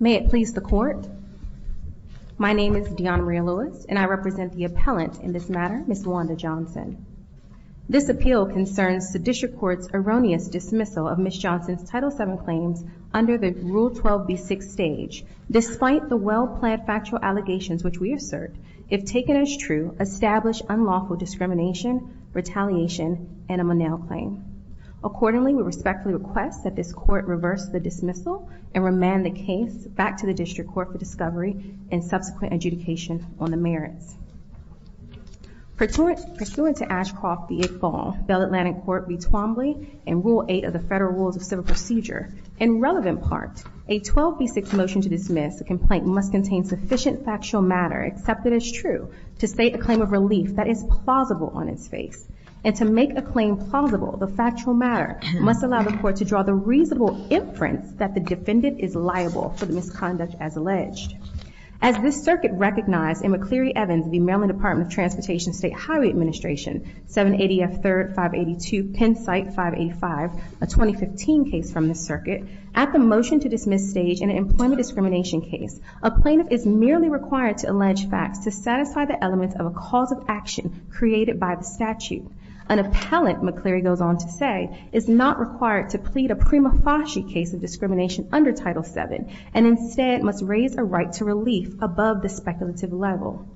May it please the Court, my name is Dionne Maria Lewis, and I represent the appellant in this matter, Ms. Wanda Johnson. This appeal concerns the District Court's erroneous dismissal of Ms. Johnson's Title VII claims under the Rule 12b6 stage, despite the well-planned factual allegations which we assert, if taken as true, establish unlawful discrimination, retaliation, and reverse the dismissal, and remand the case back to the District Court for discovery and subsequent adjudication on the merits. Pursuant to Ashcroft v. Iqbal, Bell Atlantic Court v. Twombly, and Rule 8 of the Federal Rules of Civil Procedure, in relevant part, a 12b6 motion to dismiss the complaint must contain sufficient factual matter accepted as true to state a claim of relief that is plausible on its face, and to make a claim plausible, the factual matter must allow the Court to draw the reasonable inference that the defendant is liable for the misconduct as alleged. As this circuit recognized in McCleary Evans v. Maryland Department of Transportation State Highway Administration, 780 F. 3rd 582 Pennsite 585, a 2015 case from the circuit, at the motion to dismiss stage in an employment discrimination case, a plaintiff is merely required to allege facts to satisfy the elements of a cause of action created by the statute. An appellant, McCleary goes on to say, is not required to plead a prima facie case of discrimination under Title VII, and instead must raise a right to relief above the speculative level.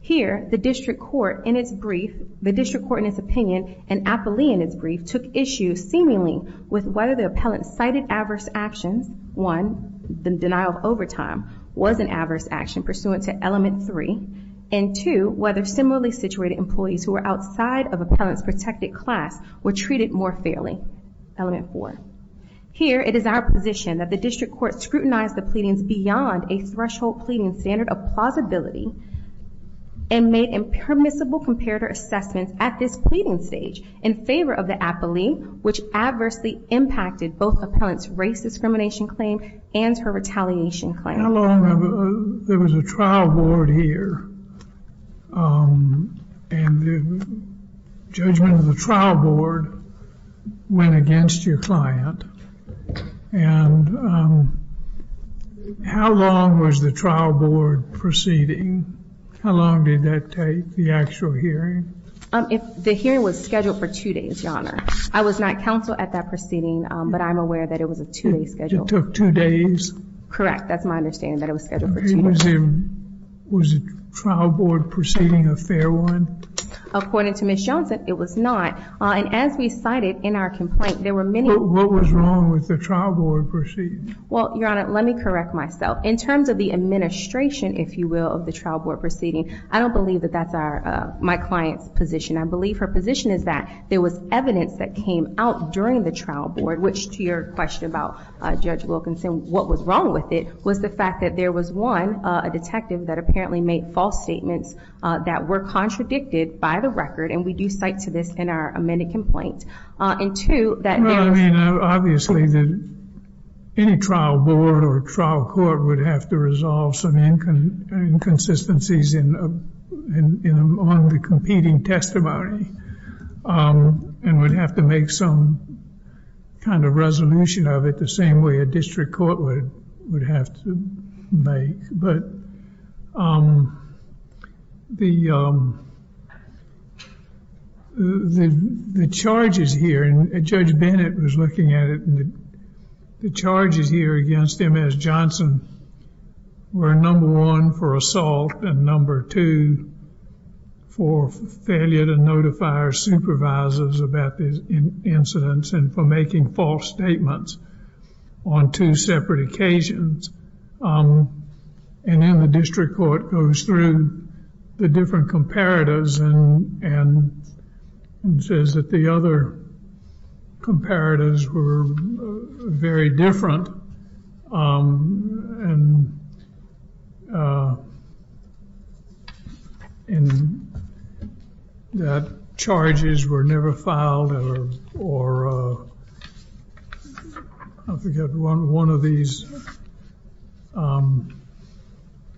Here, the District Court in its brief, the District Court in its opinion, and Appley in its brief, took issue seemingly with whether the appellant cited adverse actions. One, the denial of overtime was an adverse action pursuant to element three, and two, whether similarly situated employees who were outside of appellant's protected class were treated more fairly, element four. Here, it is our position that the District Court scrutinized the pleadings beyond a threshold pleading standard of plausibility, and made impermissible comparator assessments at this pleading stage in favor of the appellee, which adversely impacted both appellant's discrimination claim and her retaliation claim. How long, there was a trial board here, and the judgment of the trial board went against your client, and how long was the trial board proceeding? How long did that take, the actual hearing? The hearing was scheduled for two days, Your Honor. I was not counsel at that proceeding, but I'm aware that it was a two-day schedule. It took two days? Correct. That's my understanding, that it was scheduled for two days. Was the trial board proceeding a fair one? According to Ms. Johnson, it was not. And as we cited in our complaint, there were many- What was wrong with the trial board proceeding? Well, Your Honor, let me correct myself. In terms of the administration, if you will, of the trial board proceeding, I don't believe that that's my client's position. I believe her position is that there was evidence that came out during the trial board, which to your question about Judge Wilkinson, what was wrong with it was the fact that there was, one, a detective that apparently made false statements that were contradicted by the record, and we do cite to this in our amended complaint. And two, that there was- Well, I mean, obviously, any trial board or trial court would have to resolve some inconsistencies on the competing testimony, and would have to make some kind of resolution of it the same way a district court would have to make. But the charges here, and Judge Bennett was looking at it, the charges here against Ms. Johnson were, number one, for assault, and number two, for failure to notify her supervisors about the incidents, and for making false statements on two separate occasions. And then the district court goes through the different that charges were never filed, or, I forget, one of these.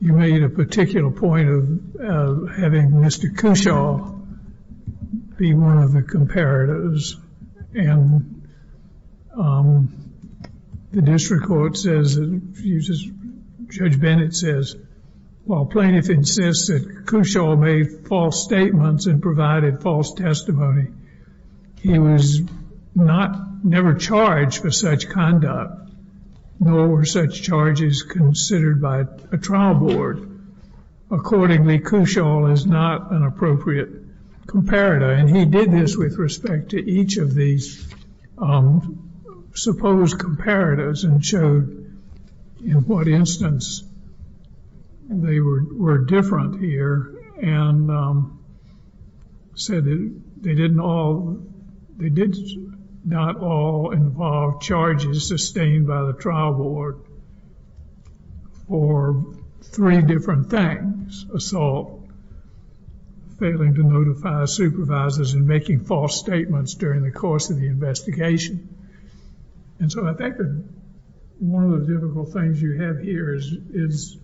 You made a particular point of having Mr. Cushaw be one of the comparatives, and the district court says, Judge Bennett says, while plaintiff insists that Cushaw made false statements and provided false testimony, he was not, never charged for such conduct, nor were such charges considered by a trial board. Accordingly, Cushaw is not an appropriate comparator. And he did this with respect to each of these supposed comparatives and showed in what instance they were different here, and said they didn't all, they did not all involve charges sustained by the trial board for three different things, assault, failing to notify supervisors, and making false statements during the course of the investigation. And so I think that one of the difficult things you have here is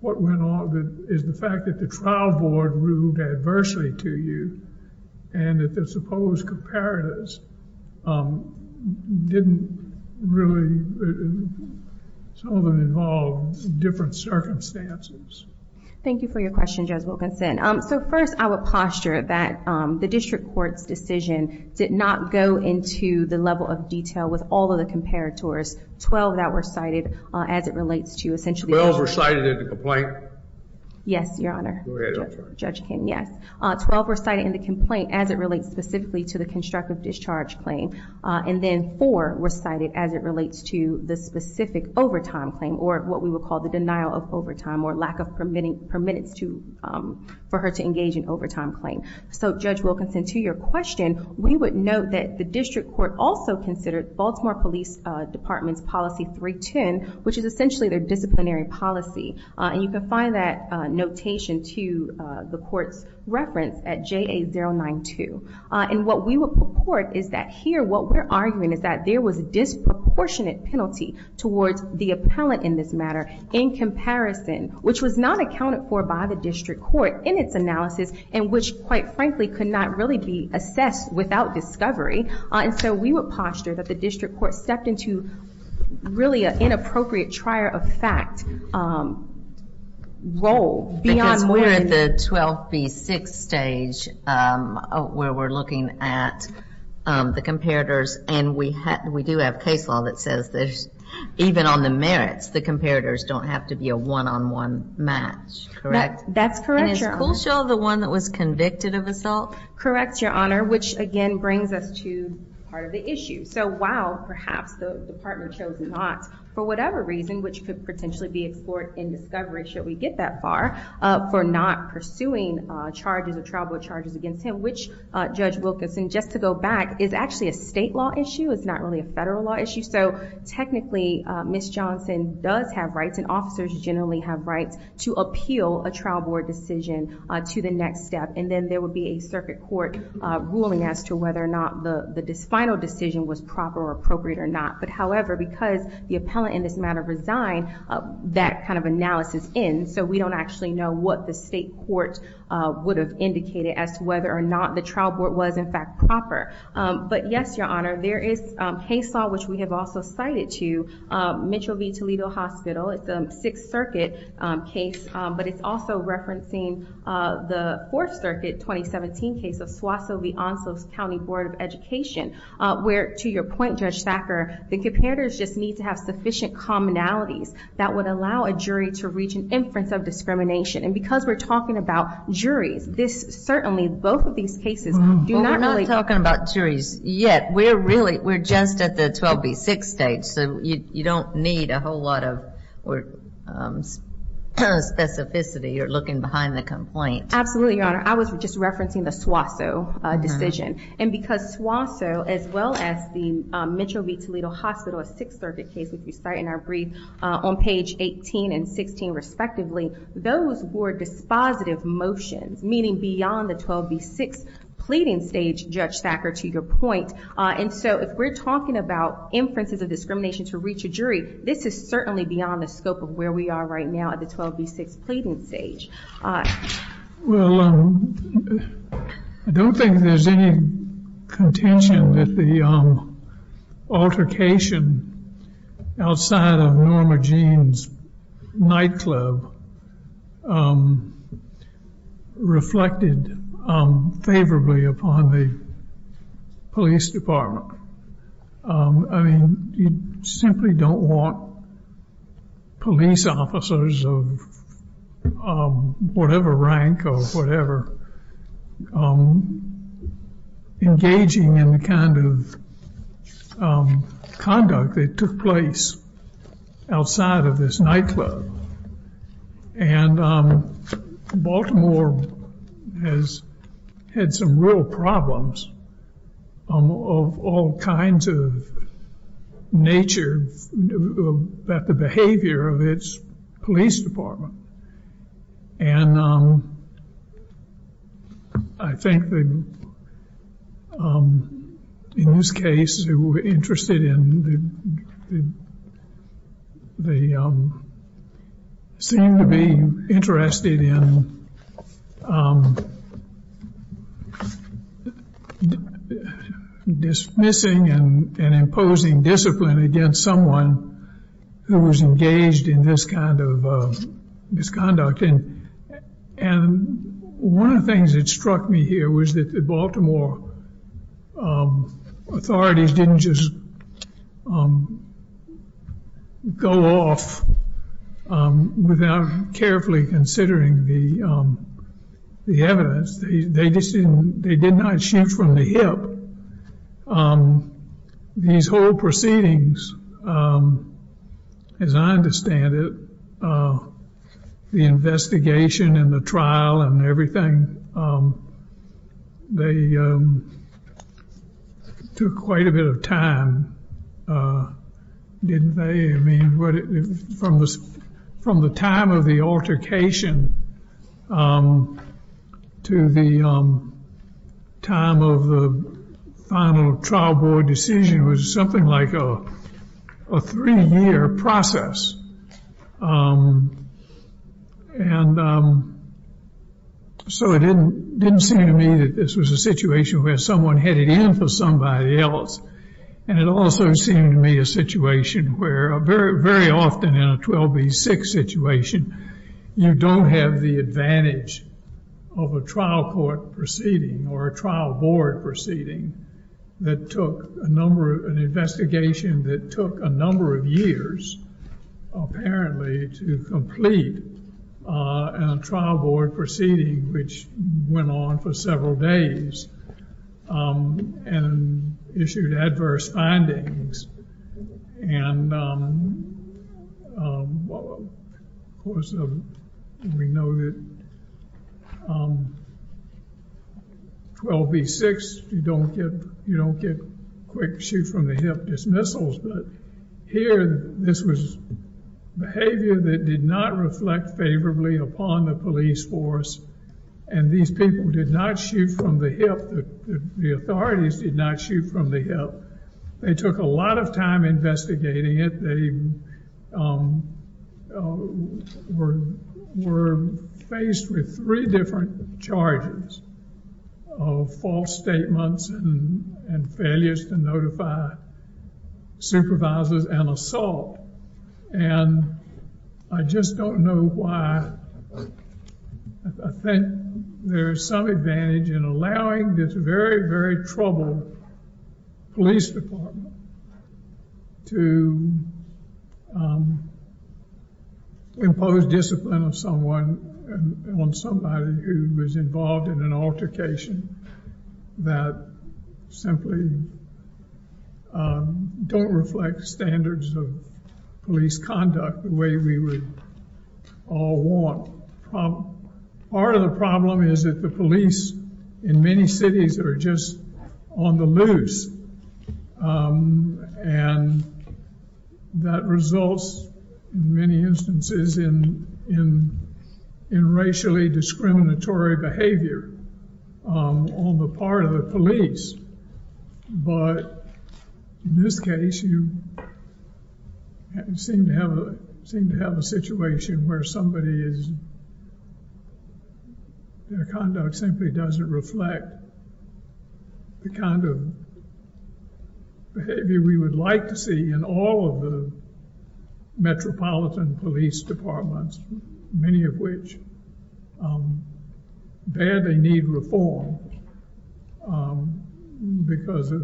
what went on, is the fact that the trial board ruled adversely to you, and that the supposed comparatives didn't really, some of them involved different circumstances. Thank you for your question, Judge Wilkinson. So first, I would posture that the district court's decision did not go into the level of detail with all of the comparators. Twelve that were cited as it relates to essentially... Twelve were cited in the complaint? Yes, Your Honor. Go ahead, I'm sorry. Judge Kim, yes. Twelve were cited in the complaint as it relates specifically to the constructive discharge claim, and then four were cited as it relates to the specific overtime claim, or what we would call the denial of overtime, or lack of permittance for her to engage in overtime claim. So, Judge Wilkinson, to your question, we would note that the district court also considered Baltimore Police Department's Policy 310, which is essentially their disciplinary policy. And you can find that notation to the court's reference at JA092. And what we would purport is that here, what we're arguing is that there was disproportionate towards the appellant in this matter, in comparison, which was not accounted for by the district court in its analysis, and which, quite frankly, could not really be assessed without discovery. And so we would posture that the district court stepped into really an inappropriate trier of fact role beyond more than... Because we're at the 12B6 stage where we're looking at the comparators, and we do have case law that says there's, even on the merits, the comparators don't have to be a one-on-one match, correct? That's correct, Your Honor. And is Kulshaw the one that was convicted of assault? Correct, Your Honor, which, again, brings us to part of the issue. So, while perhaps the partner chose not, for whatever reason, which could potentially be explored in discovery, should we get that far, for not pursuing charges or trial board charges against him, which, Judge Wilkinson, just to go back, is actually a state law issue. It's not really a federal law issue. So, technically, Ms. Johnson does have rights, and officers generally have rights, to appeal a trial board decision to the next step. And then there would be a circuit court ruling as to whether or not the final decision was proper or appropriate or not. But, however, because the appellant in this matter resigned, that kind of analysis ends, so we don't actually know what the state court would have indicated as to whether or not the trial board was, in fact, proper. But, yes, Your Honor, there is Haysaw, which we have also cited, too, Mitchell v. Toledo Hospital. It's a Sixth Circuit case, but it's also referencing the Fourth Circuit 2017 case of Suazo v. Ansos County Board of Education, where, to your point, Judge Thacker, the comparators just need to have sufficient commonalities that would allow a jury to reach an inference of discrimination. And because we're talking about juries, this, certainly, both of these cases do not really... Well, we're not talking about juries yet. We're really, we're just at the 12B6 stage, so you don't need a whole lot of specificity or looking behind the complaint. Absolutely, Your Honor. I was just referencing the Suazo decision. And because Suazo, as well as the Mitchell v. Toledo Hospital, a Sixth Circuit case, which we cite in our on page 18 and 16, respectively, those were dispositive motions, meaning beyond the 12B6 pleading stage, Judge Thacker, to your point. And so, if we're talking about inferences of discrimination to reach a jury, this is certainly beyond the scope of where we are right now at the 12B6 pleading stage. Well, I don't think there's any contention that the altercation outside of Norma Jean's nightclub reflected favorably upon the police department. I mean, you simply don't want police officers of whatever rank or whatever engaging in the kind of conduct that took place outside of this nightclub. And Baltimore has had some real problems of all kinds of nature about the nature of its police department. And I think that in this case, they were interested in, they seemed to be interested in dismissing and imposing discipline against someone who was engaged in this kind of misconduct. And one of the things that struck me here was that the Baltimore authorities didn't just go off without carefully considering the evidence. They did not shoot from the hip. These whole proceedings, as I understand it, the investigation and the trial and everything, they took quite a bit of time, didn't they? I mean, from the time of the altercation to the time of the final trial board decision was something like a three-year process. And so it didn't seem to me that this was a situation where someone headed in for somebody else. And it also seemed to me a situation where very often in a 12B6 situation, you don't have the advantage of a trial court proceeding or a trial board proceeding that took a number of, an investigation that took a number of years, apparently, to complete a trial board proceeding, which went on for days and issued adverse findings. And of course, we know that 12B6, you don't get, you don't get quick shoot from the hip dismissals. But here, this was behavior that did not reflect favorably upon the police force. And these people did not shoot from the hip. The authorities did not shoot from the hip. They took a lot of time investigating it. They were faced with three different charges of false statements and failures to notify supervisors and assault. And I just don't know why I think there's some advantage in allowing this very, very troubled police department to impose discipline on someone, on somebody who was involved in an altercation that simply don't reflect standards of police conduct the way we would all want. Part of the problem is that the police in many cities are just on the loose. And that results, in many instances, in racially discriminatory behavior on the part of the police. But in this case, you seem to seem to have a situation where somebody is, their conduct simply doesn't reflect the kind of behavior we would like to see in all of the metropolitan police departments, many of which barely need reform because of,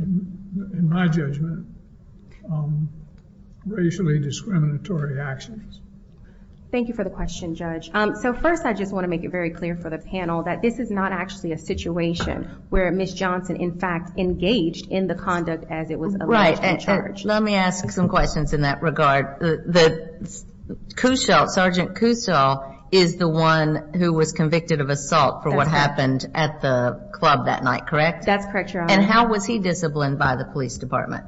in my judgment, racially discriminatory actions. Thank you for the question, Judge. So first, I just want to make it very clear for the panel that this is not actually a situation where Ms. Johnson, in fact, engaged in the conduct as it was alleged in charge. Let me ask some questions in that regard. The Cushaw, Sergeant Cushaw, is the one who was convicted of assault for what happened at the club that night, correct? That's correct, Your Honor. And how was he disciplined by the police department?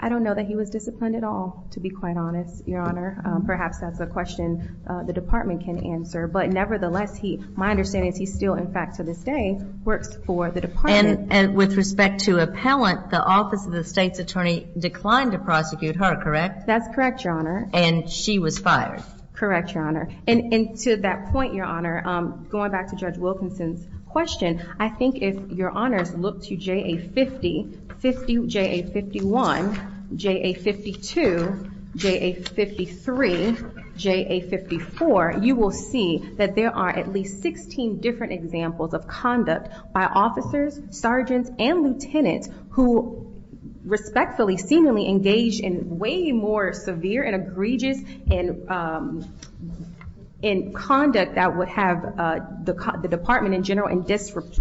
I don't know that he was disciplined at all, to be quite honest, Your Honor. Perhaps that's a question the department can answer. But nevertheless, he, my understanding is he still, in fact, to this day, works for the department. And with respect to appellant, the Office of the State's Attorney declined to prosecute her, correct? That's correct, Your Honor. And she was fired? Correct, Your Honor. And to that point, Your Honor, going back to Judge Wilkinson's question, I think if Your Honors look to JA50, JA51, JA52, JA53, JA54, you will see that there are at least 16 different examples of conduct by officers, sergeants, and lieutenants who respectfully, seemingly engaged in way more severe and egregious conduct that would have the department in general in disrespute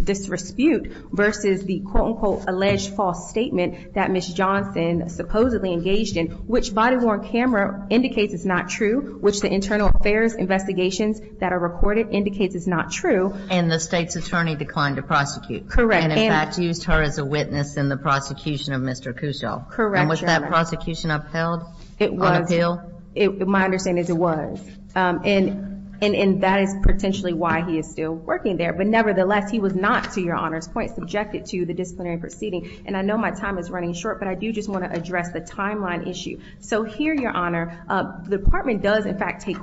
versus the, quote, unquote, alleged false statement that Ms. Johnson supposedly engaged in, which body-worn camera indicates is not true, which the criminal affairs investigations that are recorded indicates is not true. And the State's Attorney declined to prosecute? Correct. And in fact, used her as a witness in the prosecution of Mr. Cusho? Correct, Your Honor. And was that prosecution upheld? It was. On appeal? My understanding is it was. And that is potentially why he is still working there. But nevertheless, he was not, to Your Honor's point, subjected to the disciplinary proceeding. And I know my time is running short, but I do just want to address the timeline issue. So it took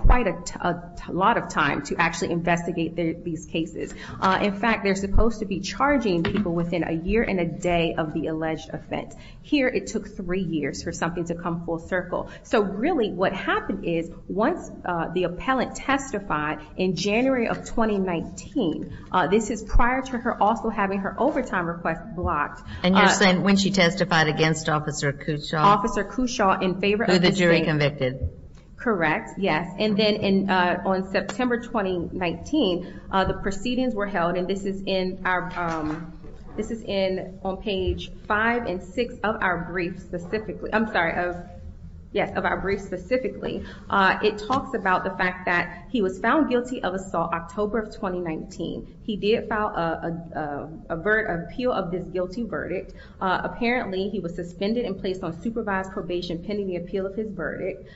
quite a lot of time to actually investigate these cases. In fact, they're supposed to be charging people within a year and a day of the alleged offense. Here, it took three years for something to come full circle. So really, what happened is, once the appellant testified in January of 2019, this is prior to her also having her overtime request blocked. And you're saying when she testified against Officer Cusho? Officer Cusho, in favor of the jury convicted? Correct. Yes. And then on September 2019, the proceedings were held. And this is on page five and six of our briefs specifically. I'm sorry, of our briefs specifically. It talks about the fact that he was found guilty of assault October of 2019. He did file an appeal of this guilty verdict. Apparently, he was suspended and placed on supervised probation pending the appeal of his verdict.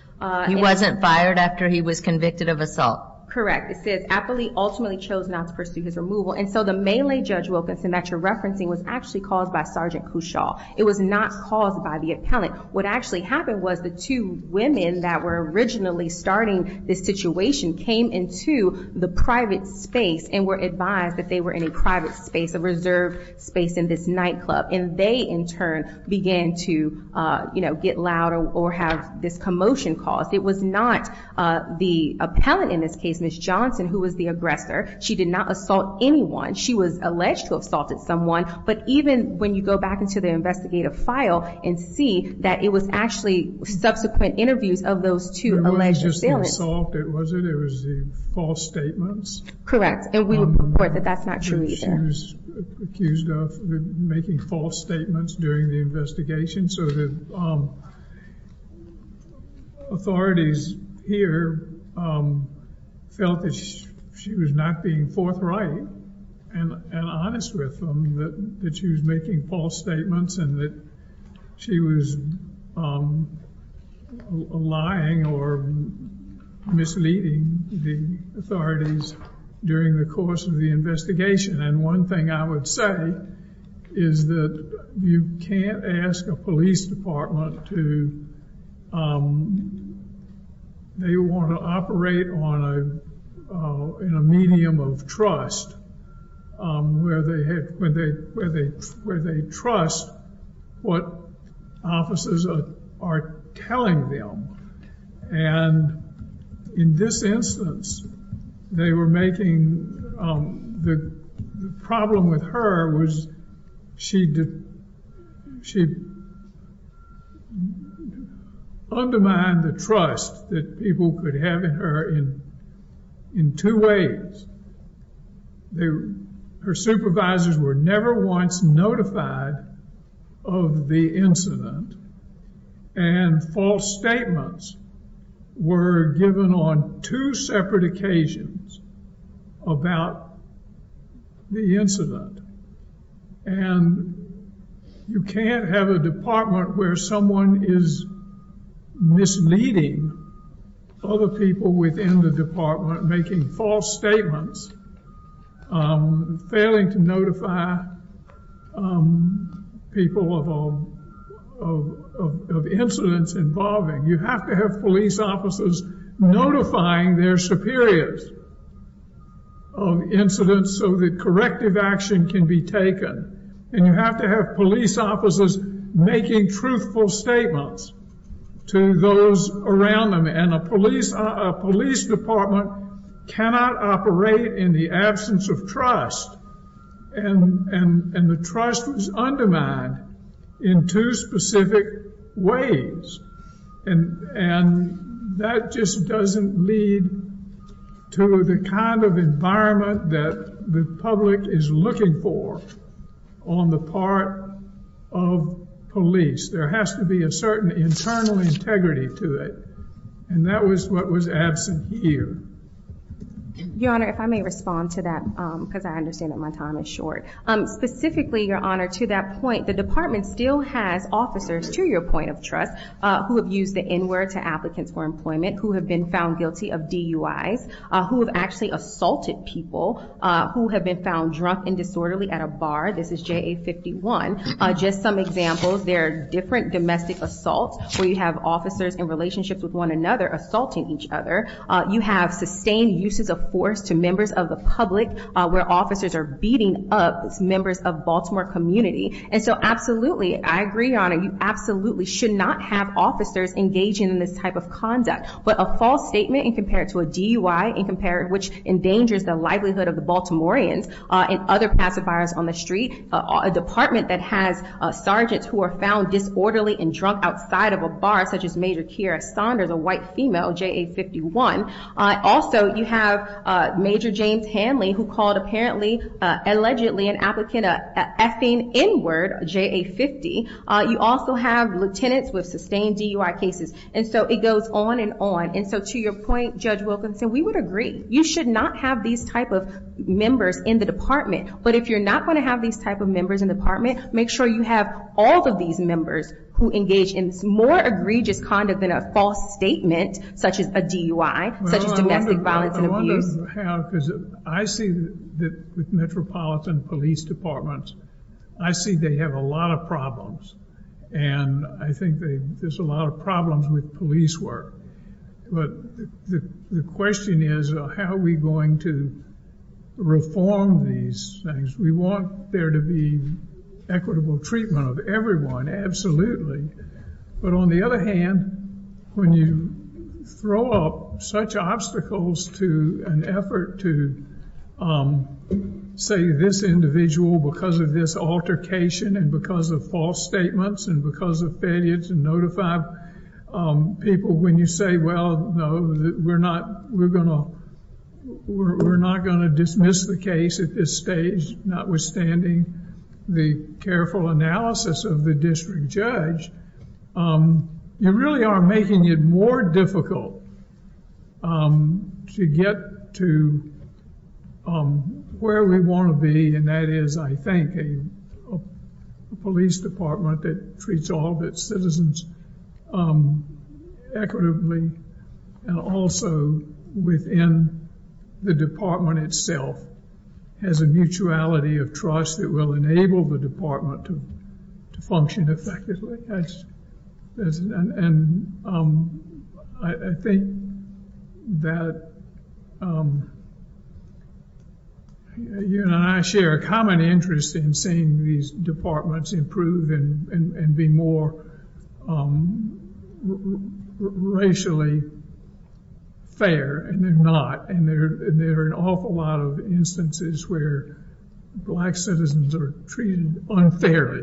He wasn't fired after he was convicted of assault? Correct. It says, Appley ultimately chose not to pursue his removal. And so the melee Judge Wilkinson that you're referencing was actually caused by Sergeant Cusho. It was not caused by the appellant. What actually happened was the two women that were originally starting this situation came into the private space and were advised that they were in a private space, a reserved space in this nightclub. And they, in turn, began to, you know, get loud or have this commotion caused. It was not the appellant in this case, Ms. Johnson, who was the aggressor. She did not assault anyone. She was alleged to have assaulted someone. But even when you go back into the investigative file and see that it was actually subsequent interviews of those two alleged assailants. It wasn't just the assault, was it? It was the false statements? Correct. And we would report that that's not true either. Ms. Johnson was accused of making false statements during the investigation. So the authorities here felt that she was not being forthright and honest with them, that she was making false statements and that she was lying or misleading the authorities during the course of the investigation. And one thing I would say is that you can't ask a police department to, they want to operate on a, in a medium of trust where they had, where they, where they, where they trust what officers are telling them. And in this instance, they were making, the problem with her was she, she undermined the trust that people could have in her in, in two ways. They, her supervisors were never once notified of the incident and false statements were given on two separate occasions about the incident. And you can't have a department where someone is misleading other people within the department, making false statements, failing to notify people of incidents involving. You have to have police officers notifying their superiors of incidents so that corrective action can be taken. And you have to have police officers making truthful statements to those around them. And a police department cannot operate in the absence of trust. And the trust was undermined in two specific ways. And that just doesn't lead to the kind of environment that the public is looking for on the part of police. There has to be a certain internal integrity to it. And that was what was absent here. Your Honor, if I may respond to that, because I understand that my time is short. Specifically, Your Honor, to that point, the department still has officers to your point of trust, who have used the N-word to applicants for employment, who have been found guilty of DUIs, who have actually assaulted people, who have been found drunk and disorderly at a bar. This is JA-51. Just some examples, there are different domestic assaults where you have officers in relationships with one another assaulting each other. You have sustained uses of force to members of the public where officers are beating up members of Baltimore community. And so absolutely, I agree, Your Honor, you absolutely should not have officers engaging in this type of conduct. But a false statement and compare it to a DUI and compare it, which endangers the livelihood of the Baltimoreans and other pacifiers on the street, a department that has sergeants who are found disorderly and drunk outside of a bar, such as Major Keira Saunders, a white female, JA-51. Also, you have Major James Hanley, who called apparently, allegedly, an applicant effing N-word, JA-50. You also have lieutenants with sustained DUI cases. And so it goes on and on. And so to your point, Judge Wilkinson, we would agree, you should not have these type of members in the department. But if you're not going to have these type of members in the department, make sure you have all of these members who engage in more egregious conduct than a false statement, such as a DUI, such as domestic violence and abuse. Well, I wonder how, because I see that with metropolitan police departments, I see they have a lot of problems. And I think there's a lot of problems with police work. But the question is, how are we going to reform these things? We want there to be equitable treatment of everyone, absolutely. But on the other hand, when you throw up such obstacles to an effort to, say, this individual because of this altercation and because of false statements and because of failure to notify people, when you say, well, no, we're not going to dismiss the case at this stage, notwithstanding the careful analysis of the district judge, you really are making it more difficult to get to where we want to be. And that is, I think, a police department that treats all of its citizens equitably and also within the department itself has a mutuality of trust that will enable the department to function effectively. And I think that you and I share a common interest in seeing these departments improve and be more racially fair, and they're not. And there are an awful lot of instances where black citizens are treated unfairly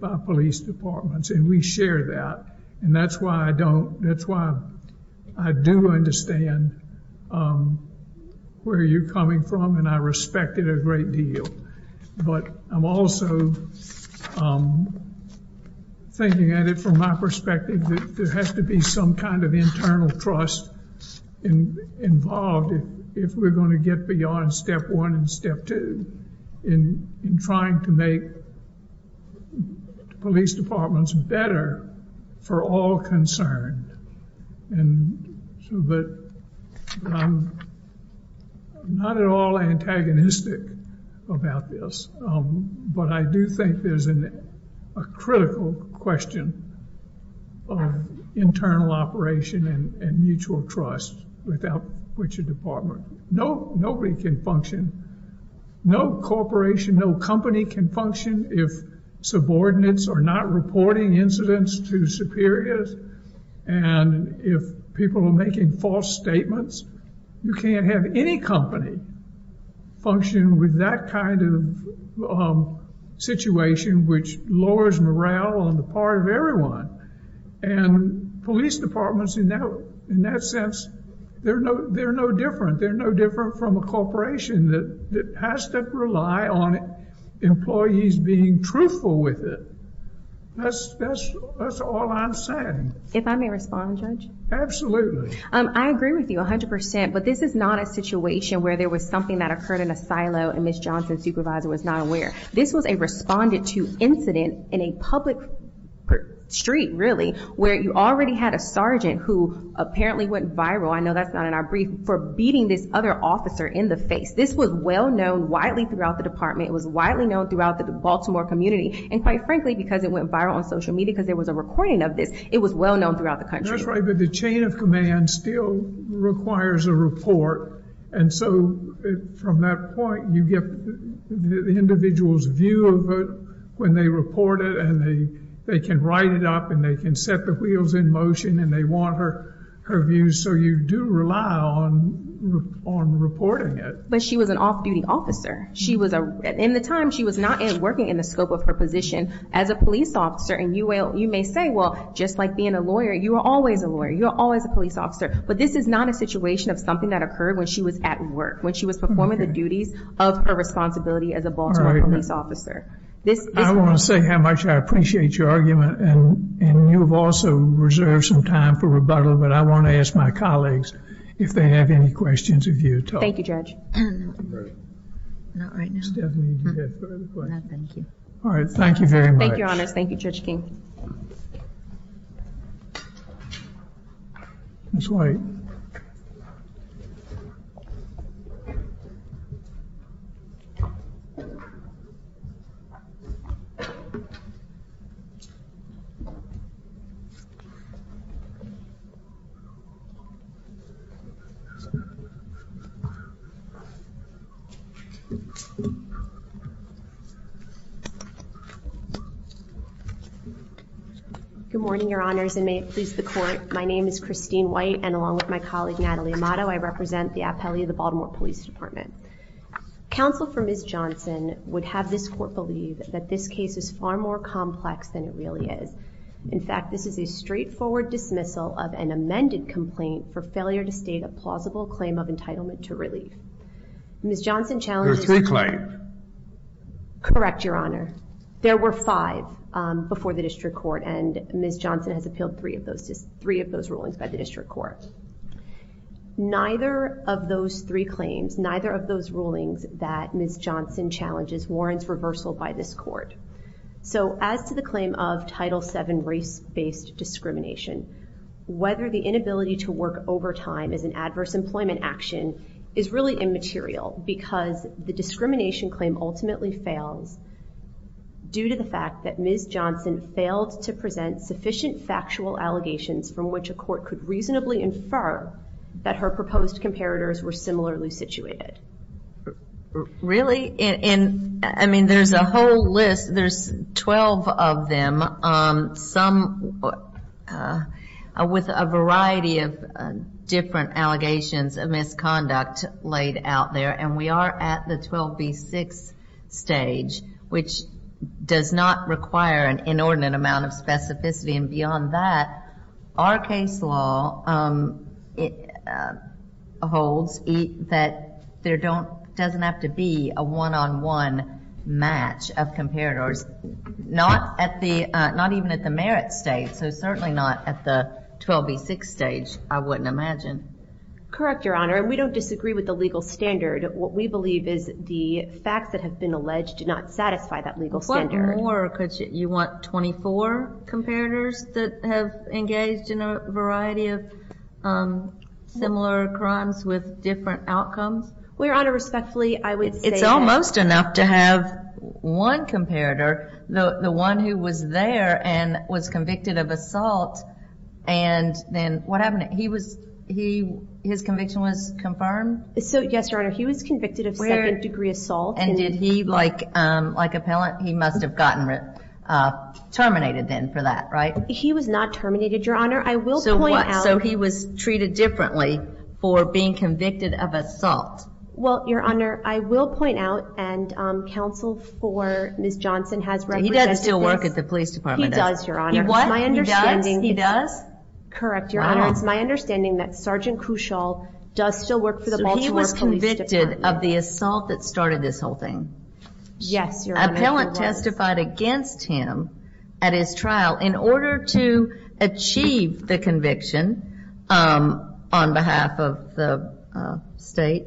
by police departments, and we share that. And that's why I do understand where you're coming from, and I respect it a great deal. But I'm also thinking at it from my perspective, there has to be some kind of internal trust involved if we're going to get beyond step one and step two in trying to make police departments better for all concerned. And so that I'm not at all antagonistic about this. But I do think there's a critical question of internal operation and mutual trust without which a department, no, nobody can function. No corporation, no company can function if subordinates are not reporting incidents to superiors. And if people are making false statements, you can't have any company function with that kind of situation, which lowers morale on the part of everyone. And police departments in that sense, they're no different. They're has to rely on employees being truthful with it. That's all I'm saying. If I may respond, Judge? Absolutely. I agree with you 100%. But this is not a situation where there was something that occurred in a silo and Ms. Johnson's supervisor was not aware. This was a responded to incident in a public street, really, where you already had a sergeant who apparently went viral, I know that's not in our brief, for beating this other officer in the face. This was well known widely throughout the department. It was widely known throughout the Baltimore community. And quite frankly, because it went viral on social media, because there was a recording of this, it was well known throughout the country. That's right. But the chain of command still requires a report. And so from that point, you get the individual's view of it, when they report it, and they, they can write it up and they can set the wheels in motion and they want her views. So you do rely on reporting it. But she was an off duty officer. She was, in the time she was not working in the scope of her position as a police officer. And you may say, well, just like being a lawyer, you are always a lawyer, you're always a police officer. But this is not a situation of something that occurred when she was at work, when she was performing the duties of her responsibility as a Baltimore police officer. I want to say how much I appreciate your argument. And you've also reserved some time for rebuttal. But I want to ask my colleagues, if they have any questions of you. Thank you, Judge. All right. Thank you very much. Thank you, Your Honor. Thank you, Judge King. Good morning, Your Honors, and may it please the court. My name is Christine White, and along with my colleague Natalie Amato, I represent the appellee of the Baltimore Police Department. Counsel for Ms. Johnson would have this court believe that this case is far more complex than it really is. In fact, this is a straightforward dismissal of an amended complaint for failure to state a plausible claim of entitlement to relief. Ms. Johnson challenged... There are three claims. Correct, Your Honor. There were five before the district court, and Ms. Johnson has appealed three of those rulings by the district court. Neither of those three claims, neither of those rulings that Ms. Johnson challenges warrants reversal by this court. So as to the claim of Title VII race-based discrimination, whether the inability to work overtime is an adverse employment action is really immaterial, because the discrimination claim ultimately fails due to the fact that Ms. Johnson failed to present sufficient factual allegations from which a court could reasonably infer that her proposed comparators were similarly situated. Really? I mean, there's a whole list. There's 12 of them, some with a variety of different allegations of misconduct laid out there, and we are at the 12B6 stage, which does not require an inordinate amount of specificity. And there doesn't have to be a one-on-one match of comparators, not even at the merit stage, so certainly not at the 12B6 stage, I wouldn't imagine. Correct, Your Honor. We don't disagree with the legal standard. What we believe is the facts that have been alleged do not satisfy that legal standard. What more could you... You want 24 comparators that have engaged in a variety of similar crimes with different outcomes? Your Honor, respectfully, I would say... It's almost enough to have one comparator, the one who was there and was convicted of assault, and then what happened? His conviction was confirmed? Yes, Your Honor. He was convicted of second-degree assault. And did he, like appellant, he must have gotten terminated then for that, right? He was not terminated, Your Honor. I will point out... So what? So he was treated differently for being convicted of assault? Well, Your Honor, I will point out, and counsel for Ms. Johnson has represented this... He does still work at the police department? He does, Your Honor. He what? He does? He does? Correct, Your Honor. It's my understanding that Sergeant Cushall does still work for the Baltimore Police Department. So he was convicted of the assault that started this whole thing? Yes, Your Honor. Appellant testified against him at his trial in order to achieve the conviction on behalf of the state,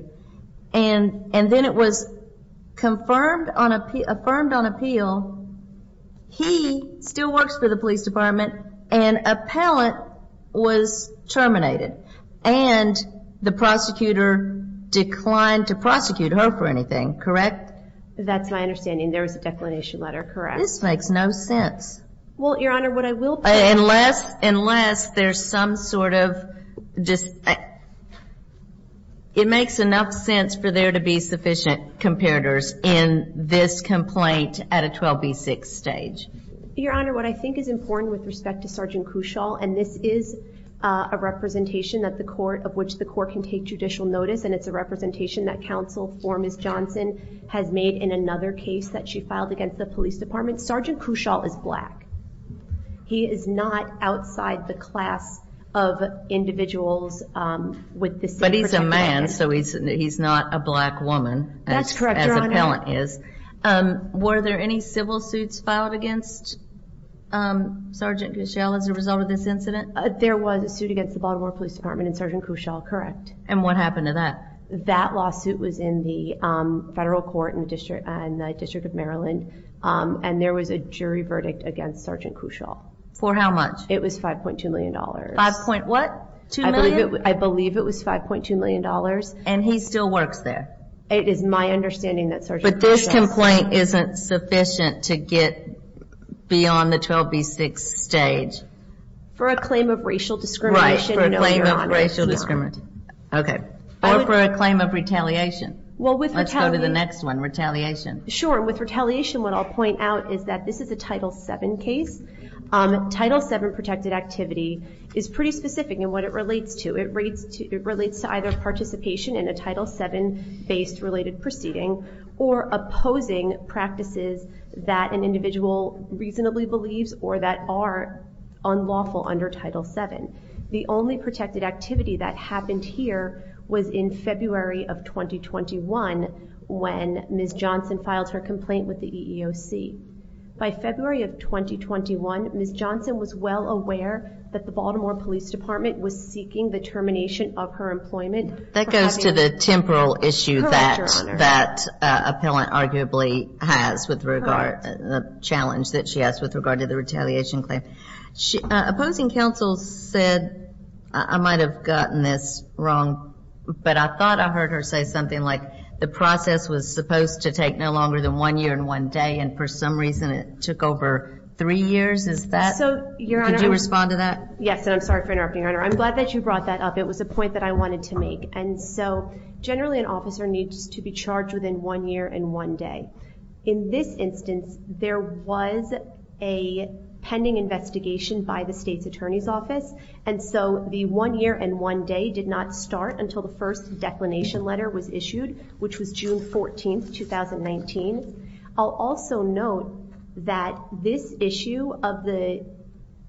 and then it was confirmed on appeal... Affirmed on appeal, he still works for the police department, and appellant was terminated, and the prosecutor declined to prosecute her for anything, correct? That's my understanding. There was a declination letter, correct? This makes no sense. Well, Your Honor, what I will point out... Unless there's some sort of... It makes enough sense for there to be sufficient comparators in this complaint at a 12B6 stage. Your Honor, what I think is important with respect to Sergeant Cushall, and this is a representation of which the court can take judicial notice, and it's a representation that counsel for Ms. Johnson has made in another case that she filed against the police department, Sergeant Cushall is black. He is not outside the class of individuals with the same... But he's a man, so he's not a black woman... That's correct, Your Honor. As appellant is. Were there any civil suits filed against Sergeant Cushall as a result of this incident? There was a suit against the Baltimore Police Department and Sergeant Cushall, correct. And what happened to that? That lawsuit was in the federal court in the District of Maryland, and there was a jury verdict against Sergeant Cushall. For how much? It was 5.2 million dollars. 5. what? 2 million? I believe it was 5.2 million dollars. And he still works there? It is my understanding that Sergeant Cushall... But this complaint isn't sufficient to get beyond the 12B6 stage. For a claim of racial discrimination... Right, for a claim of racial discrimination. Okay. Or for a claim of retaliation. Let's go to the next one, retaliation. Sure. With retaliation, what I'll point out is that this is a Title VII case. Title VII protected activity is pretty specific in what it relates to. It relates to either participation in a Title VII based related proceeding, or opposing practices that an individual reasonably believes or that are unlawful under Title VII. The only protected activity that happened here was in February of 2021, when Ms. Johnson filed her complaint with the EEOC. By February of 2021, Ms. Johnson was well aware that the Baltimore Police Department was seeking the termination of her employment. That goes to the temporal issue that that appellant arguably has with regard... The challenge that she has with regard to the retaliation claim. Opposing counsel said, I might have gotten this wrong, but I thought I heard her say something like, the process was supposed to take no longer than one year and one day, and for some reason, it took over three years. Is that... So, Your Honor... Could you respond to that? Yes, and I'm sorry for interrupting, Your Honor. I'm glad that you brought that up. It was a point that I wanted to make. And so, generally, an officer needs to be charged within one year and one day. In this instance, there was a pending investigation by the State's Attorney's Office. And so, the one year and one day did not start until the first declination letter was issued, which was June 14th, 2019. I'll also note that this issue of the...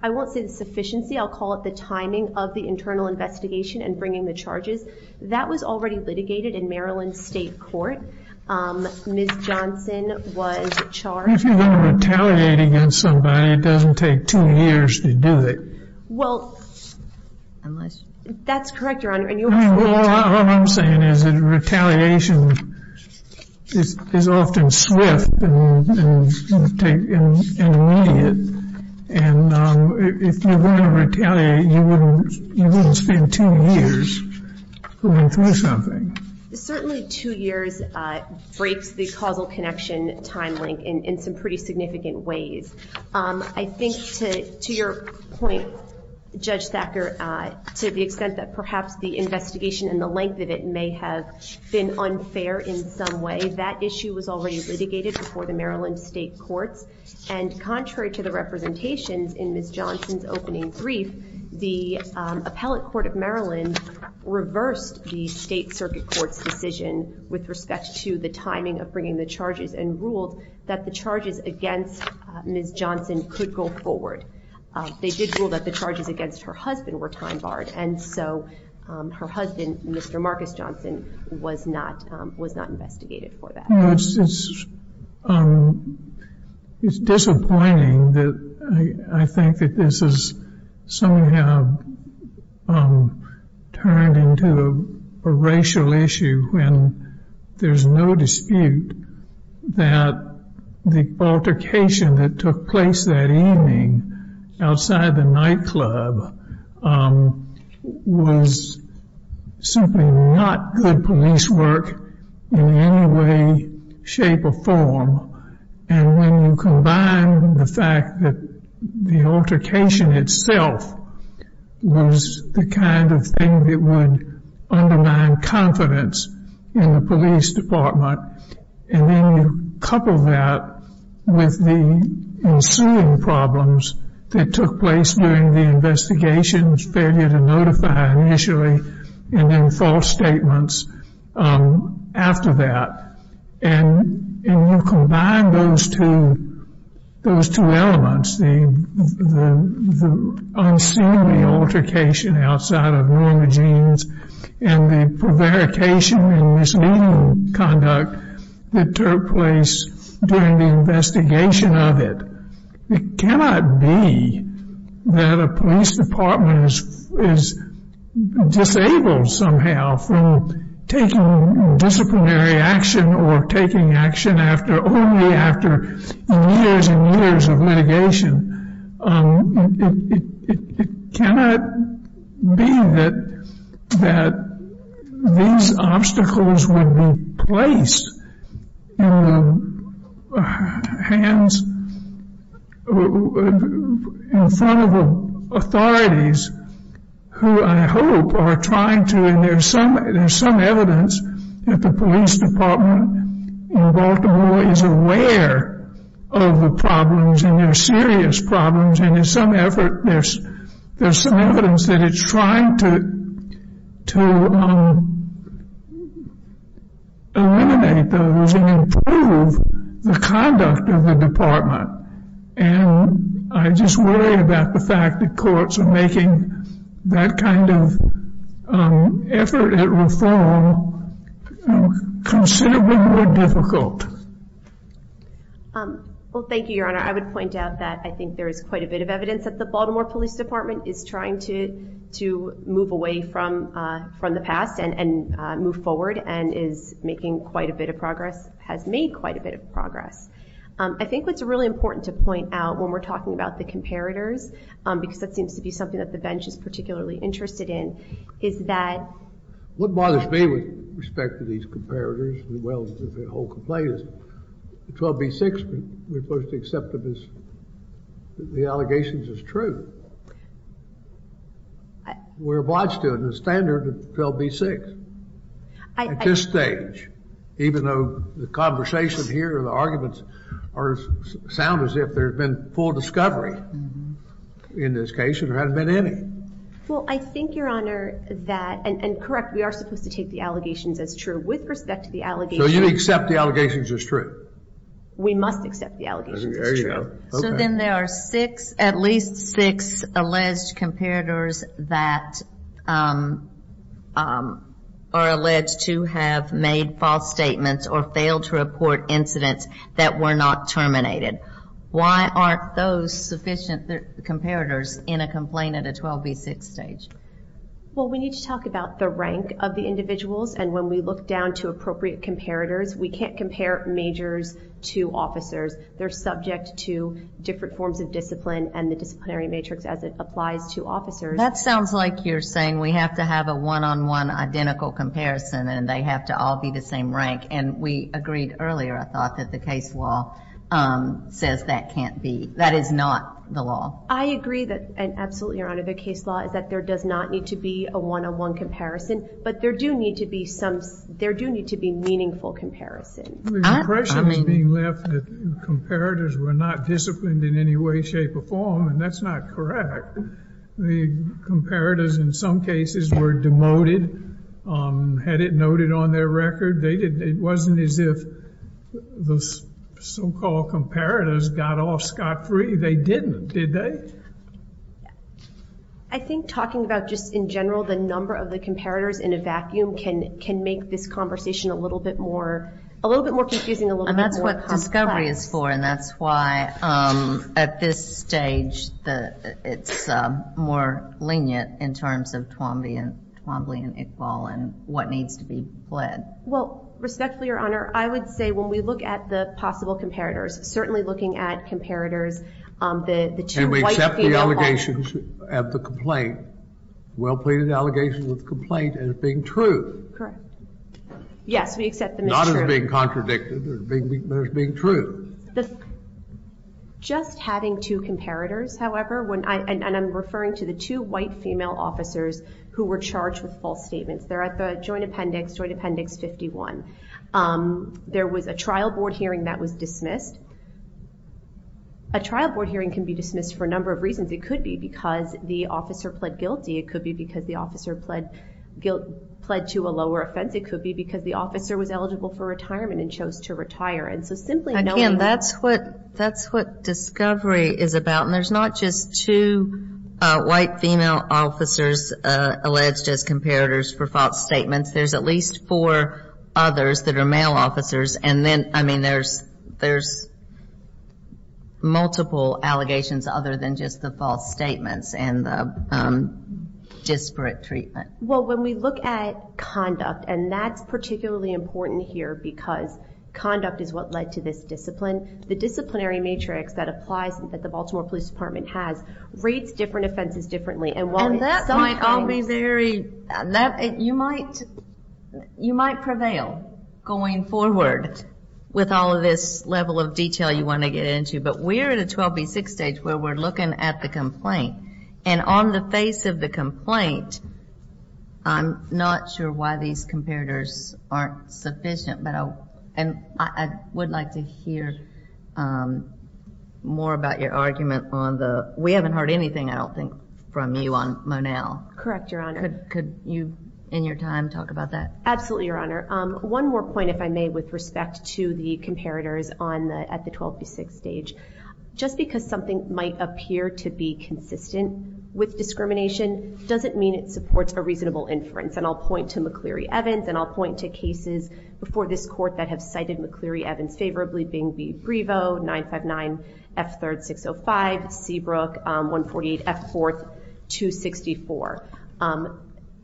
I won't say the sufficiency. I'll call it the timing of the internal investigation and bringing the charges. That was already litigated in Maryland State Court. Ms. Johnson was charged... If you're going to retaliate against somebody, it doesn't take two years to do it. Well, unless... That's correct, Your Honor, and you were... What I'm saying is that retaliation is often swift and immediate. And if you're going to retaliate, you wouldn't spend two years going through something. Certainly, two years breaks the causal connection time link in some pretty significant ways. I think, to your point, Judge Thacker, to the extent that perhaps the investigation and the length of it may have been unfair in some way, that issue was already litigated before the Maryland State Courts. And contrary to the representations in Ms. Johnson's opening brief, the Appellate Court of Maryland reversed the State Circuit Court's decision with respect to the timing of bringing the charges and ruled that the charges against Ms. Johnson could go forward. They did rule that the charges against her husband were time barred, and so her husband, Mr. Thacker, was not investigated for that. It's disappointing that I think that this has somehow turned into a racial issue when there's no dispute that the altercation that took place that evening outside the nightclub was simply not good police work in any way, shape, or form. And when you combine the fact that the altercation itself was the kind of thing that would undermine confidence in the police department, and then you couple that with the ensuing problems that took place during the investigation's failure to notify initially, and then false statements after that, and you combine those two elements, the unseemly altercation outside of normal genes and the prevarication and misleading conduct that took place during the investigation of it, it cannot be that a police department is disabled somehow from taking disciplinary action or taking action only after years and years of litigation. It cannot be that these obstacles would be placed in the hands in front of authorities who I hope are trying to, and there's some evidence that the police department in Baltimore is aware of the problems, and they're serious problems, and there's some evidence that it's trying to eliminate those and improve the conduct of the department. And I just worry about the fact that courts are making that kind of effort at reform considerably more difficult. Well, thank you, Your Honor. I would point out that I think there is quite a bit of evidence that the Baltimore Police Department is trying to move away from the past and move forward and is making quite a bit of progress, has made quite a bit of progress. I think what's really important to point out when we're talking about the comparators, because that seems to be something that the bench is particularly interested in, is that... What bothers me with respect to these comparators, as well as the whole complaint, is 12b-6, we're supposed to accept the allegations as true. We're obliged to it in the standard of 12b-6. At this stage, even though the conversation here, the arguments, sound as if there's been full discovery in this case, and there hasn't been any. Well, I think, Your Honor, that... And correct, we are supposed to take the allegations as true with respect to the allegations as true. We must accept the allegations as true. There you go. Okay. So then there are six, at least six, alleged comparators that are alleged to have made false statements or failed to report incidents that were not terminated. Why aren't those sufficient comparators in a complaint at a 12b-6 stage? Well, we need to talk about the rank of the individuals, and when we look down to appropriate comparators, we can't compare majors to officers. They're subject to different forms of discipline and the disciplinary matrix as it applies to officers. That sounds like you're saying we have to have a one-on-one identical comparison, and they have to all be the same rank, and we agreed earlier, I thought, that the case law says that can't be. That is not the law. I agree that, and absolutely, Your Honor, the case law is that there does not need to be a one-on-one comparison, but there do need to be some, there do need to be meaningful comparison. The impression is being left that comparators were not disciplined in any way, shape, or form, and that's not correct. The comparators, in some cases, were demoted, had it noted on their record. They didn't, it wasn't as if those so-called comparators got off scot-free. They didn't, did they? I think talking about just, in general, the number of the comparators in a vacuum can make this conversation a little bit more, a little bit more confusing, a little bit more complex. And that's what discovery is for, and that's why, at this stage, it's more lenient in terms of Twombly and Iqbal and what needs to be pled. Well, respectfully, Your Honor, I would say when we look at the possible comparators, certainly looking at comparators, the two white female... And we accept the allegations of the complaint, well-pleaded allegations of the complaint as being true. Correct. Yes, we accept them as true. Not as being contradicted, but as being true. Just having two comparators, however, when I, and I'm referring to the two white female officers who were charged with false statements, they're at the Joint Appendix, Joint Appendix 51. There was a trial board hearing that was dismissed. A trial board hearing can be dismissed for a number of reasons. It could be because the officer pled guilty. It could be because the officer pled, pled to a lower offense. It could be because the officer was eligible for retirement and chose to retire. And so simply knowing... Again, that's what, that's what discovery is about. And there's not just two white female officers alleged as comparators for false statements. There's at least four others that are male officers. And then, I mean, there's, there's multiple allegations other than just the false statements and the disparate treatment. Well, when we look at conduct, and that's particularly important here because conduct is what led to this discipline. The disciplinary matrix that applies, that the Baltimore Police Department has, rates different offenses differently. And while... And that might all be very, you might, you might prevail going forward with all of this level of detail you want to get into. But we're at a 12B6 stage where we're looking at the complaint. And on the face of the complaint, I'm not sure why these comparators aren't sufficient. But I, and I would like to hear more about your argument on the, we haven't heard anything, I don't think, from you on Monell. Correct, Your Honor. Could, could you, in your time, talk about that? Absolutely, Your Honor. One more point, if I may, with respect to the comparators on the, at the 12B6 stage. Just because something might appear to be consistent with discrimination, doesn't mean it supports a reasonable inference. And I'll point to McCleary-Evans, and I'll point to cases before this court that have cited McCleary-Evans favorably, being B 4.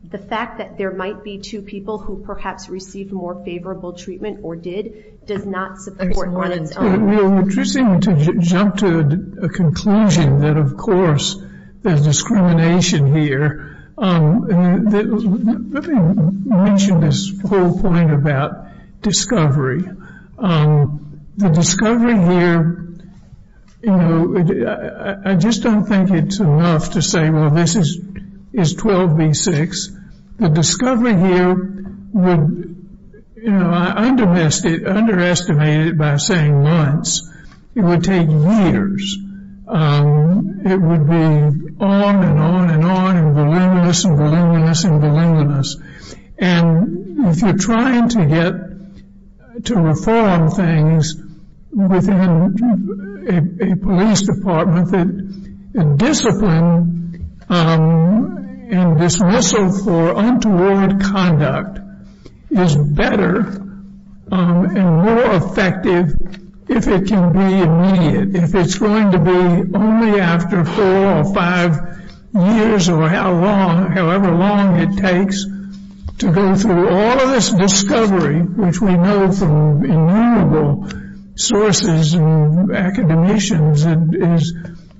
The fact that there might be two people who perhaps received more favorable treatment, or did, does not support one of its own. Well, it's interesting to jump to a conclusion that, of course, there's discrimination here. Let me mention this whole point about discovery. The discovery here, you know, I just don't think it's enough to say, well, this is, you know, this is, you know, this is 12B6. The discovery here would, you know, I underestimated it by saying months. It would take years. It would be on, and on, and on, and voluminous, and voluminous, and voluminous. And if you're trying to get, to reform things within a police department that discipline, and this muscle for untoward conduct is better and more effective if it can be immediate. If it's going to be only after four or five years, or how long, however long it takes to go through all of this discovery, which we know from innumerable sources and from academicians, is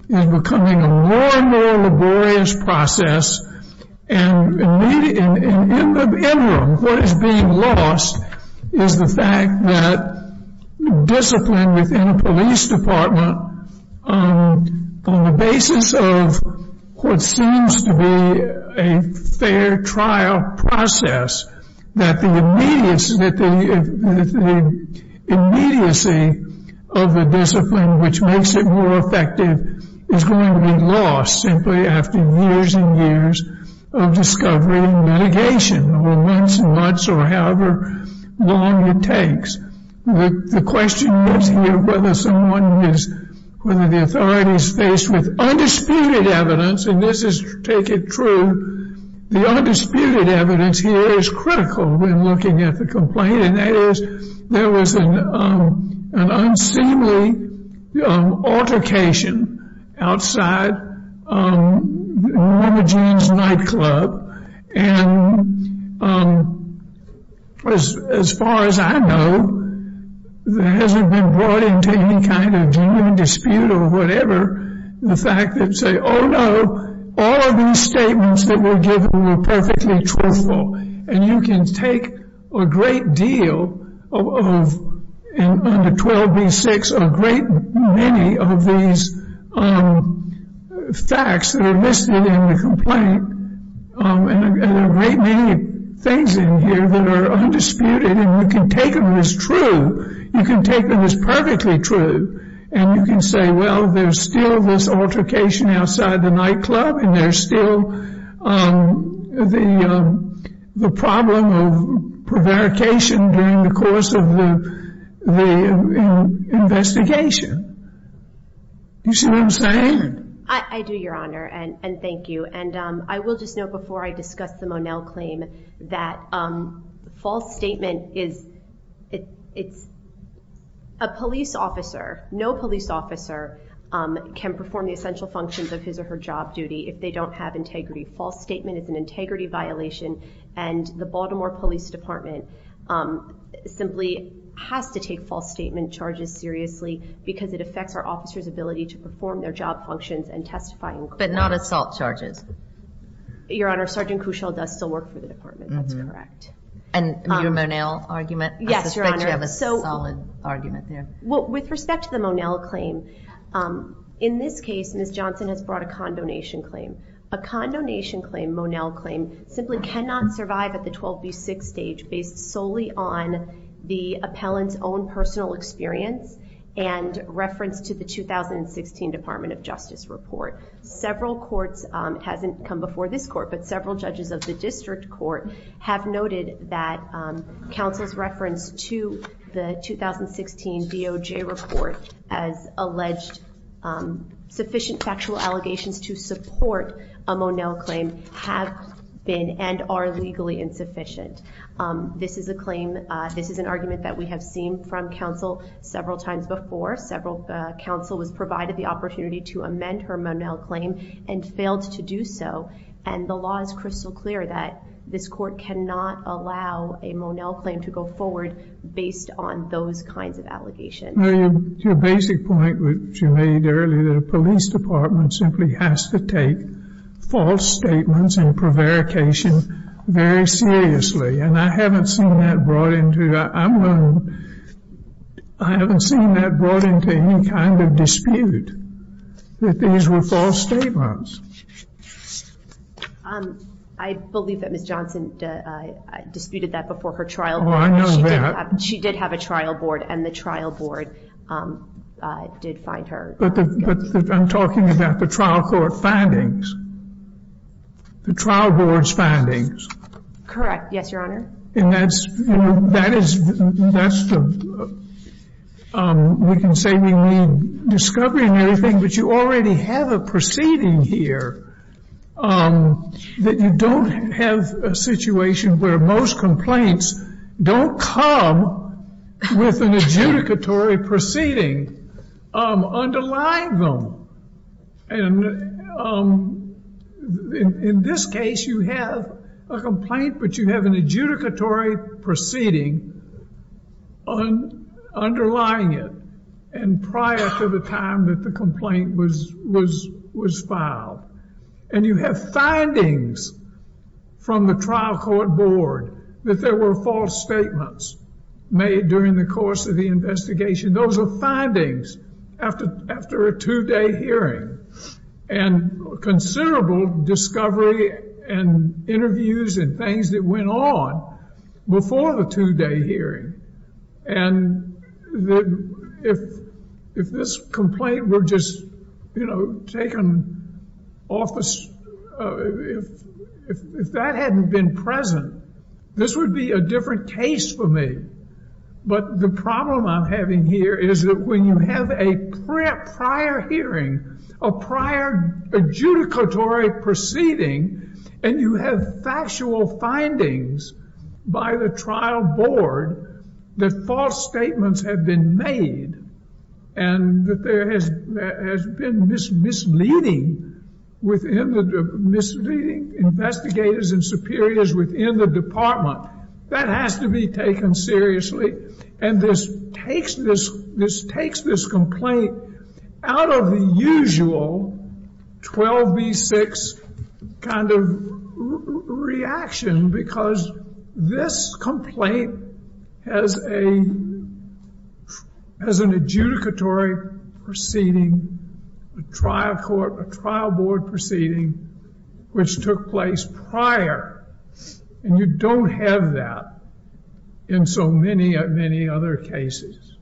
becoming a more and more laborious process. And in the interim, what is being lost is the fact that discipline within a police department, on the basis of what seems to be a fair trial process, that the immediacy, that the immediacy of the discipline, which makes it more effective, is going to be lost simply after years and years of discovery and mitigation, or months and months, or however long it takes. The question is here whether someone is, whether the authority is faced with undisputed evidence, and this is, take it true, the undisputed evidence here is critical when looking at the complaint, and that is there was an unseemly, unseemly altercation outside Norma Jean's nightclub, and as far as I know, there hasn't been brought into any kind of genuine dispute or whatever, the fact that say, oh no, all of these statements that were given were perfectly truthful, and you can take a great deal of, under 12B6, a great deal of these facts that are listed in the complaint, and there are a great many things in here that are undisputed, and you can take them as true, you can take them as perfectly true, and you can say, well, there's still this altercation outside the nightclub, and there's still the problem of there being false statements, and you can take these as true, and you can say, well, there's still this altercation outside the nightclub, and there's false statements. I don't think the statement is true. You see what I'm saying? I do, your Honor, and thank you, and I will just note, before I discuss the Monell claim, that false statement is, it's, a police officer, no police officer can perform the essential functions of his or her job duty if they don't have integrity. False statement is an integrity violation, and the Baltimore Police Department simply has to take false statement charges seriously because it affects the integrity of the complaint, and we have, and we do believe that it affects our officers' ability to perform their job functions and testify in court. But not assault charges. Your Honor, Sergeant Cushall does still work for the department, that's correct. And your Monell argument, I suspect you have a solid argument there. Well, with respect to the Monell claim, in this case, Ms. Johnson has brought a condonation claim. A condonation claim, Monell claim, simply cannot survive at the 12B6 stage based solely on the appellant's own personal experience and references to the 12B6, and the Monell claim simply cannot survive at the 12B6 stage. And that's in reference to the 2016 Department of Justice report. Several courts, it hasn't come before this court, but several judges of the district court have noted that counsel's reference to the 2016 DOJ report as alleged sufficient factual allegations to support a Monell claim have been and are legally insufficient. This is a claim, this is an argument that we have seen from counsel several times before, several times before, where counsel was provided the opportunity to amend her Monell claim and failed to do so. And the law is crystal clear that this court cannot allow a Monell claim to go forward based on those kinds of allegations. To your basic point, which you made earlier, the police department simply has to take false statements and prevarication very seriously. And I haven't seen that brought into any kind of dispute, that these were false statements. I believe that Ms. Johnson disputed that before her trial. Oh, I know that. She did have a trial board, and the trial board did find her. But I'm talking about the trial court findings, the trial board's findings. Correct. Yes, Your Honor. And that's, you know, that is, that's the, we can say we need discovery and everything, but you already have a proceeding here that you don't have a situation where most complaints don't come with an adjudicatory proceeding underlying them. And in this case, you have a complaint, but you have an adjudicatory proceeding underlying it. And prior to the time that the complaint was, was, was filed. And you have findings from the trial court board that there were false statements made during the course of the investigation. Those are findings after, after a two-day hearing. And considerable discovery and interviews and things like that. And I'm not going to go into the details of that, because it went on before the two-day hearing. And if, if this complaint were just, you know, taken off the, if, if that hadn't been present, this would be a different case for me. But the problem I'm having here is that when you have a prior hearing, a prior adjudicatory proceeding, and you have factual findings by the trial board that false statements have been made, and that there has, has been misleading within the, misleading investigators and superiors within the department, that has to be taken seriously. And this takes this, this takes this complaint out of the usual 12B6 kind of reaction, because this complaint has a, has an adjudicatory proceeding, a trial court, a trial board proceeding, which took place prior. And you don't have that in so many, many other cases.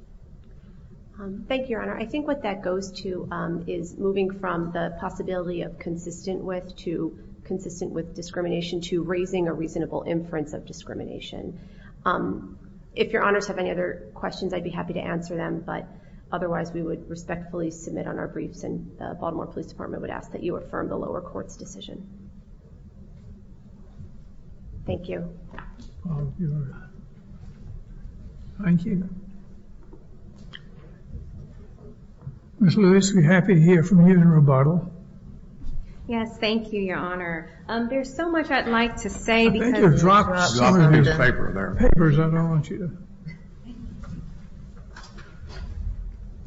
Thank you, Your Honor. I think what that goes to is moving from the possibility of consistent with, to consistent with discrimination, to raising a reasonable inference of discrimination. If Your Honors have any other questions, I'd be happy to answer them, but otherwise we would respectfully submit on our briefs, and the Baltimore Police Department would ask that you affirm the lower court's decision. Thank you. Thank you. Ms. Lewis, we're happy to hear from you in rebuttal. Yes, thank you, Your Honor. There's so much I'd like to say.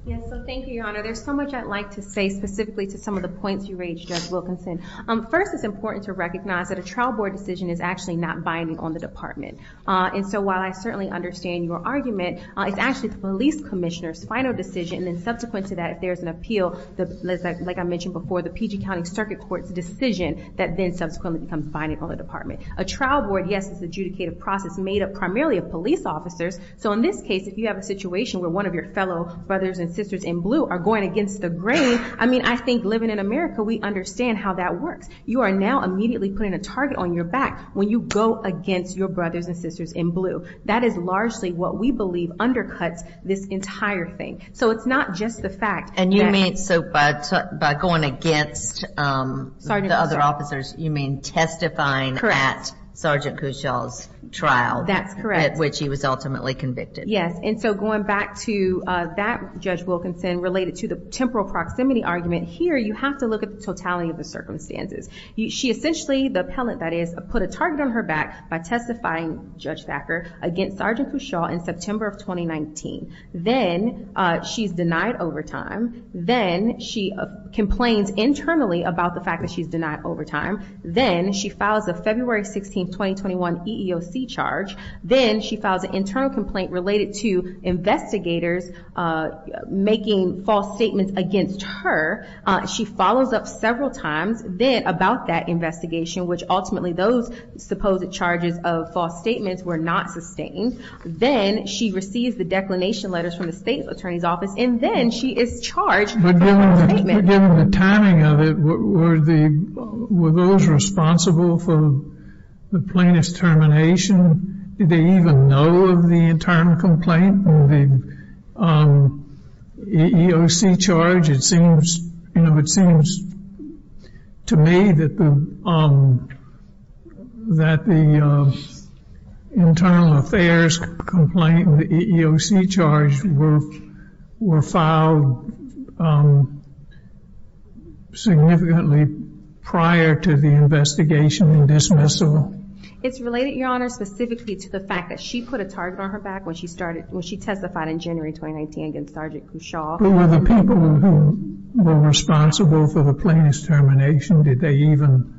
Yes, so thank you, Your Honor. There's so much I'd like to say specifically to some of the points you raised, Judge Wilkinson. First, it's important to understand that the trial court is the final decision on the department. And so while I certainly understand your argument, it's actually the police commissioner's final decision, and then subsequent to that, if there's an appeal, like I mentioned before, the PG County Circuit Court's decision that then subsequently becomes binding on the department. A trial board, yes, is an adjudicative process made up primarily of police officers. So in this case, if you have a situation where one of your fellow brothers and sisters in blue are going against the grain, I mean, I think living in America, we understand how that works. You are now immediately putting a target on your back when you go against your brothers and sisters in blue. That is largely what we believe undercuts this entire thing. So it's not just the fact that... And you mean, so by going against the other officers, you mean testifying at Sergeant Cushaw's trial... Going back to that, Judge Wilkinson, related to the temporal proximity argument here, you have to look at the totality of the circumstances. She essentially, the appellant, that is, put a target on her back by testifying, Judge Thacker, against Sergeant Cushaw in September of 2019. Then she's denied overtime. Then she complains internally about the fact that she's denied overtime. Then she files a February 16, 2021 EEOC charge. Then she files an internal complaint related to investigators making false statements against her. She follows up several times then about that investigation, which ultimately those supposed charges of false statements were not sustained. Then she receives the declination letters from the state attorney's office, and then she is charged with a false statement. Given the timing of it, were those responsible for the plaintiff's termination? Did they even know of the internal complaint and the EEOC charge? It seems to me that the internal affairs complaint and the EEOC charge were filed in September of 2019. Significantly prior to the investigation and dismissal? It's related, Your Honor, specifically to the fact that she put a target on her back when she testified in January 2019 against Sergeant Cushaw. But were the people who were responsible for the plaintiff's termination, did they even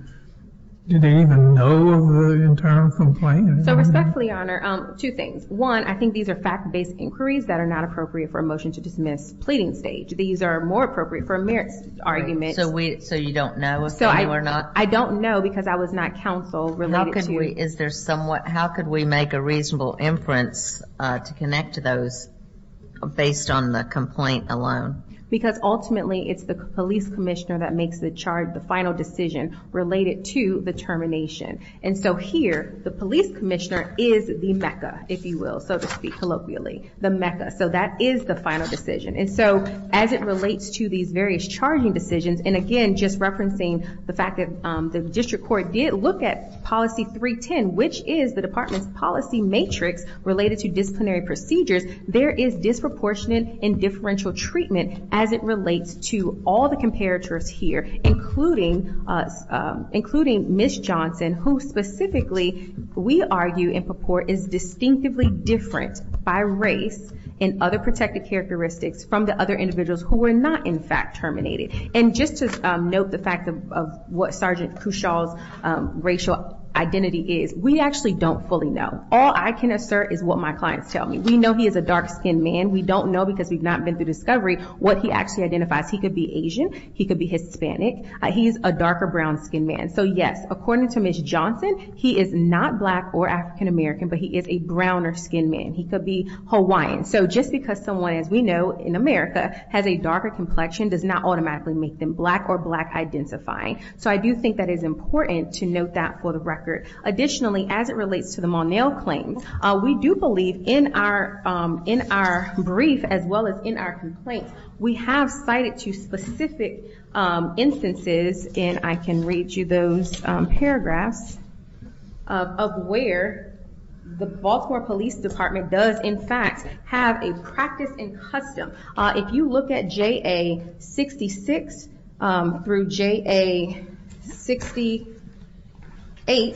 know of the internal complaint? So respectfully, Your Honor, two things. One, I think these are fact-based inquiries that are not appropriate for a motion to dismiss pleading stage. These are more appropriate for a merits argument. So you don't know if they knew or not? I don't know because I was not counsel related to it. How could we make a reasonable inference to connect to those based on the complaint alone? Because ultimately it's the police commissioner that makes the charge, the final decision related to the termination. And so here, the police commissioner is the mecca, if you will, so to speak, colloquially, the mecca. So that is the final decision. And so as it relates to these various charging decisions, and again, just referencing the fact that the district court did look at policy 310, which is the department's policy matrix related to disciplinary procedures, there is disproportionate and differential treatment as it relates to all the comparators here, including Ms. Johnson, who specifically, we argue and purport, is distinctively different by race and other protective characteristics from the other individuals who were not in fact terminated. And just to note the fact of what Sgt. Cushall's racial identity is, we actually don't fully know. All I can assert is what my clients tell me. We know he is a dark-skinned man. We don't know because we've not been through discovery what he actually identifies. He could be Asian. He could be Hispanic. He's a darker brown-skinned man. So yes, according to Ms. Johnson, he is not black or African-American, but he is a browner-skinned man. He could be Hawaiian. So just because someone, as we know in America, has a darker complexion does not automatically make them black or black-identifying. So I do think that it is important to note that for the record. Additionally, as it relates to the Monell claims, we do believe in our brief, as well as in our complaint, we have cited two specific instances, and I can read you those paragraphs, of where the Baltimore Police Department does, in fact, have a practice and custom. If you look at JA-66 through JA-68,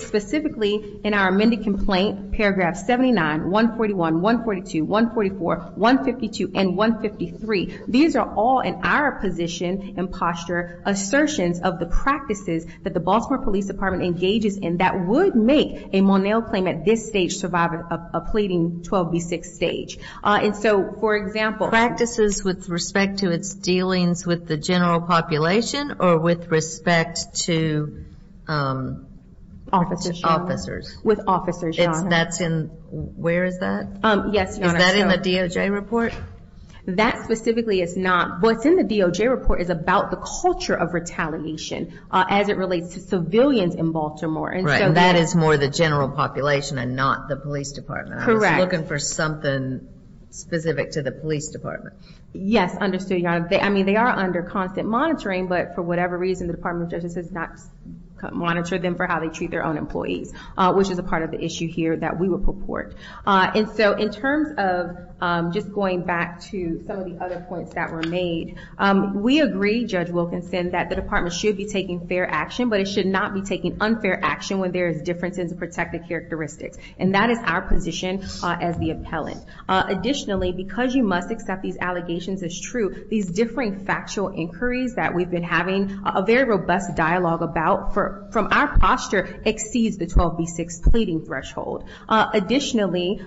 specifically in our amended complaint, paragraph 79, 141, 142, 144, 152, and 153, these are all in our position and posture assertions of the practices that the Baltimore Police Department engages in that would make a Monell claim at this stage survive a pleading 12B6 stage. And so, for example... Practices with respect to its dealings with the general population or with respect to... Officers. Where is that? Is that in the DOJ report? That specifically is not. What's in the DOJ report is about the culture of retaliation as it relates to civilians in Baltimore. Right, and that is more the general population and not the police department. I was looking for something specific to the police department. Yes, understood, Your Honor. I mean, they are under constant monitoring, but for whatever reason, the Department of Justice has not monitored them for how they treat their own employees, which is a part of the issue here that we would purport. In terms of just going back to some of the other points that were made, we agree, Judge Wilkinson, that the department should be taking fair action, but it should not be taking unfair action when there is differences in protective characteristics. And that is our position as the appellant. Additionally, because you must accept these allegations as true, these differing factual inquiries that we've been having a very robust dialogue about from our posture exceeds the 12B6 pleading threshold. Additionally,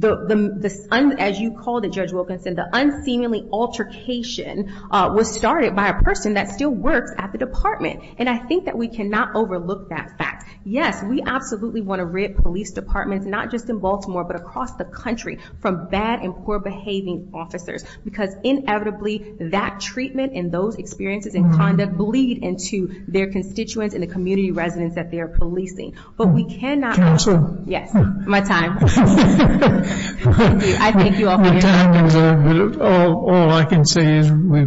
as you called it, Judge Wilkinson, the unseemly altercation was started by a person that still works at the department. And I think that we cannot overlook that fact. Yes, we absolutely want to rip police departments, not just in Baltimore, but across the country, from bad and poor-behaving officers, because inevitably, that treatment and those experiences and conduct bleed into their constituents and the community residents that they are policing. But we cannot... Counsel? Yes, my time. Thank you. I thank you all for your time. My time is over, but all I can say is we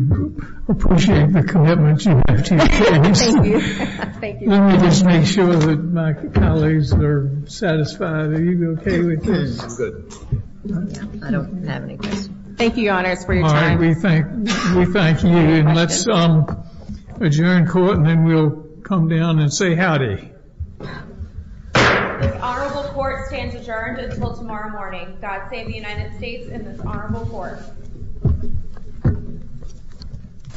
appreciate the commitment you have to your case. Thank you. Thank you. I just want to make sure that my colleagues are satisfied. Are you okay with this? I'm good. I don't have any questions. Thank you, Your Honors, for your time. All right, we thank you, and let's adjourn court, and then we'll come down and say howdy. This honorable court stands adjourned until tomorrow morning. God save the United States and this honorable court.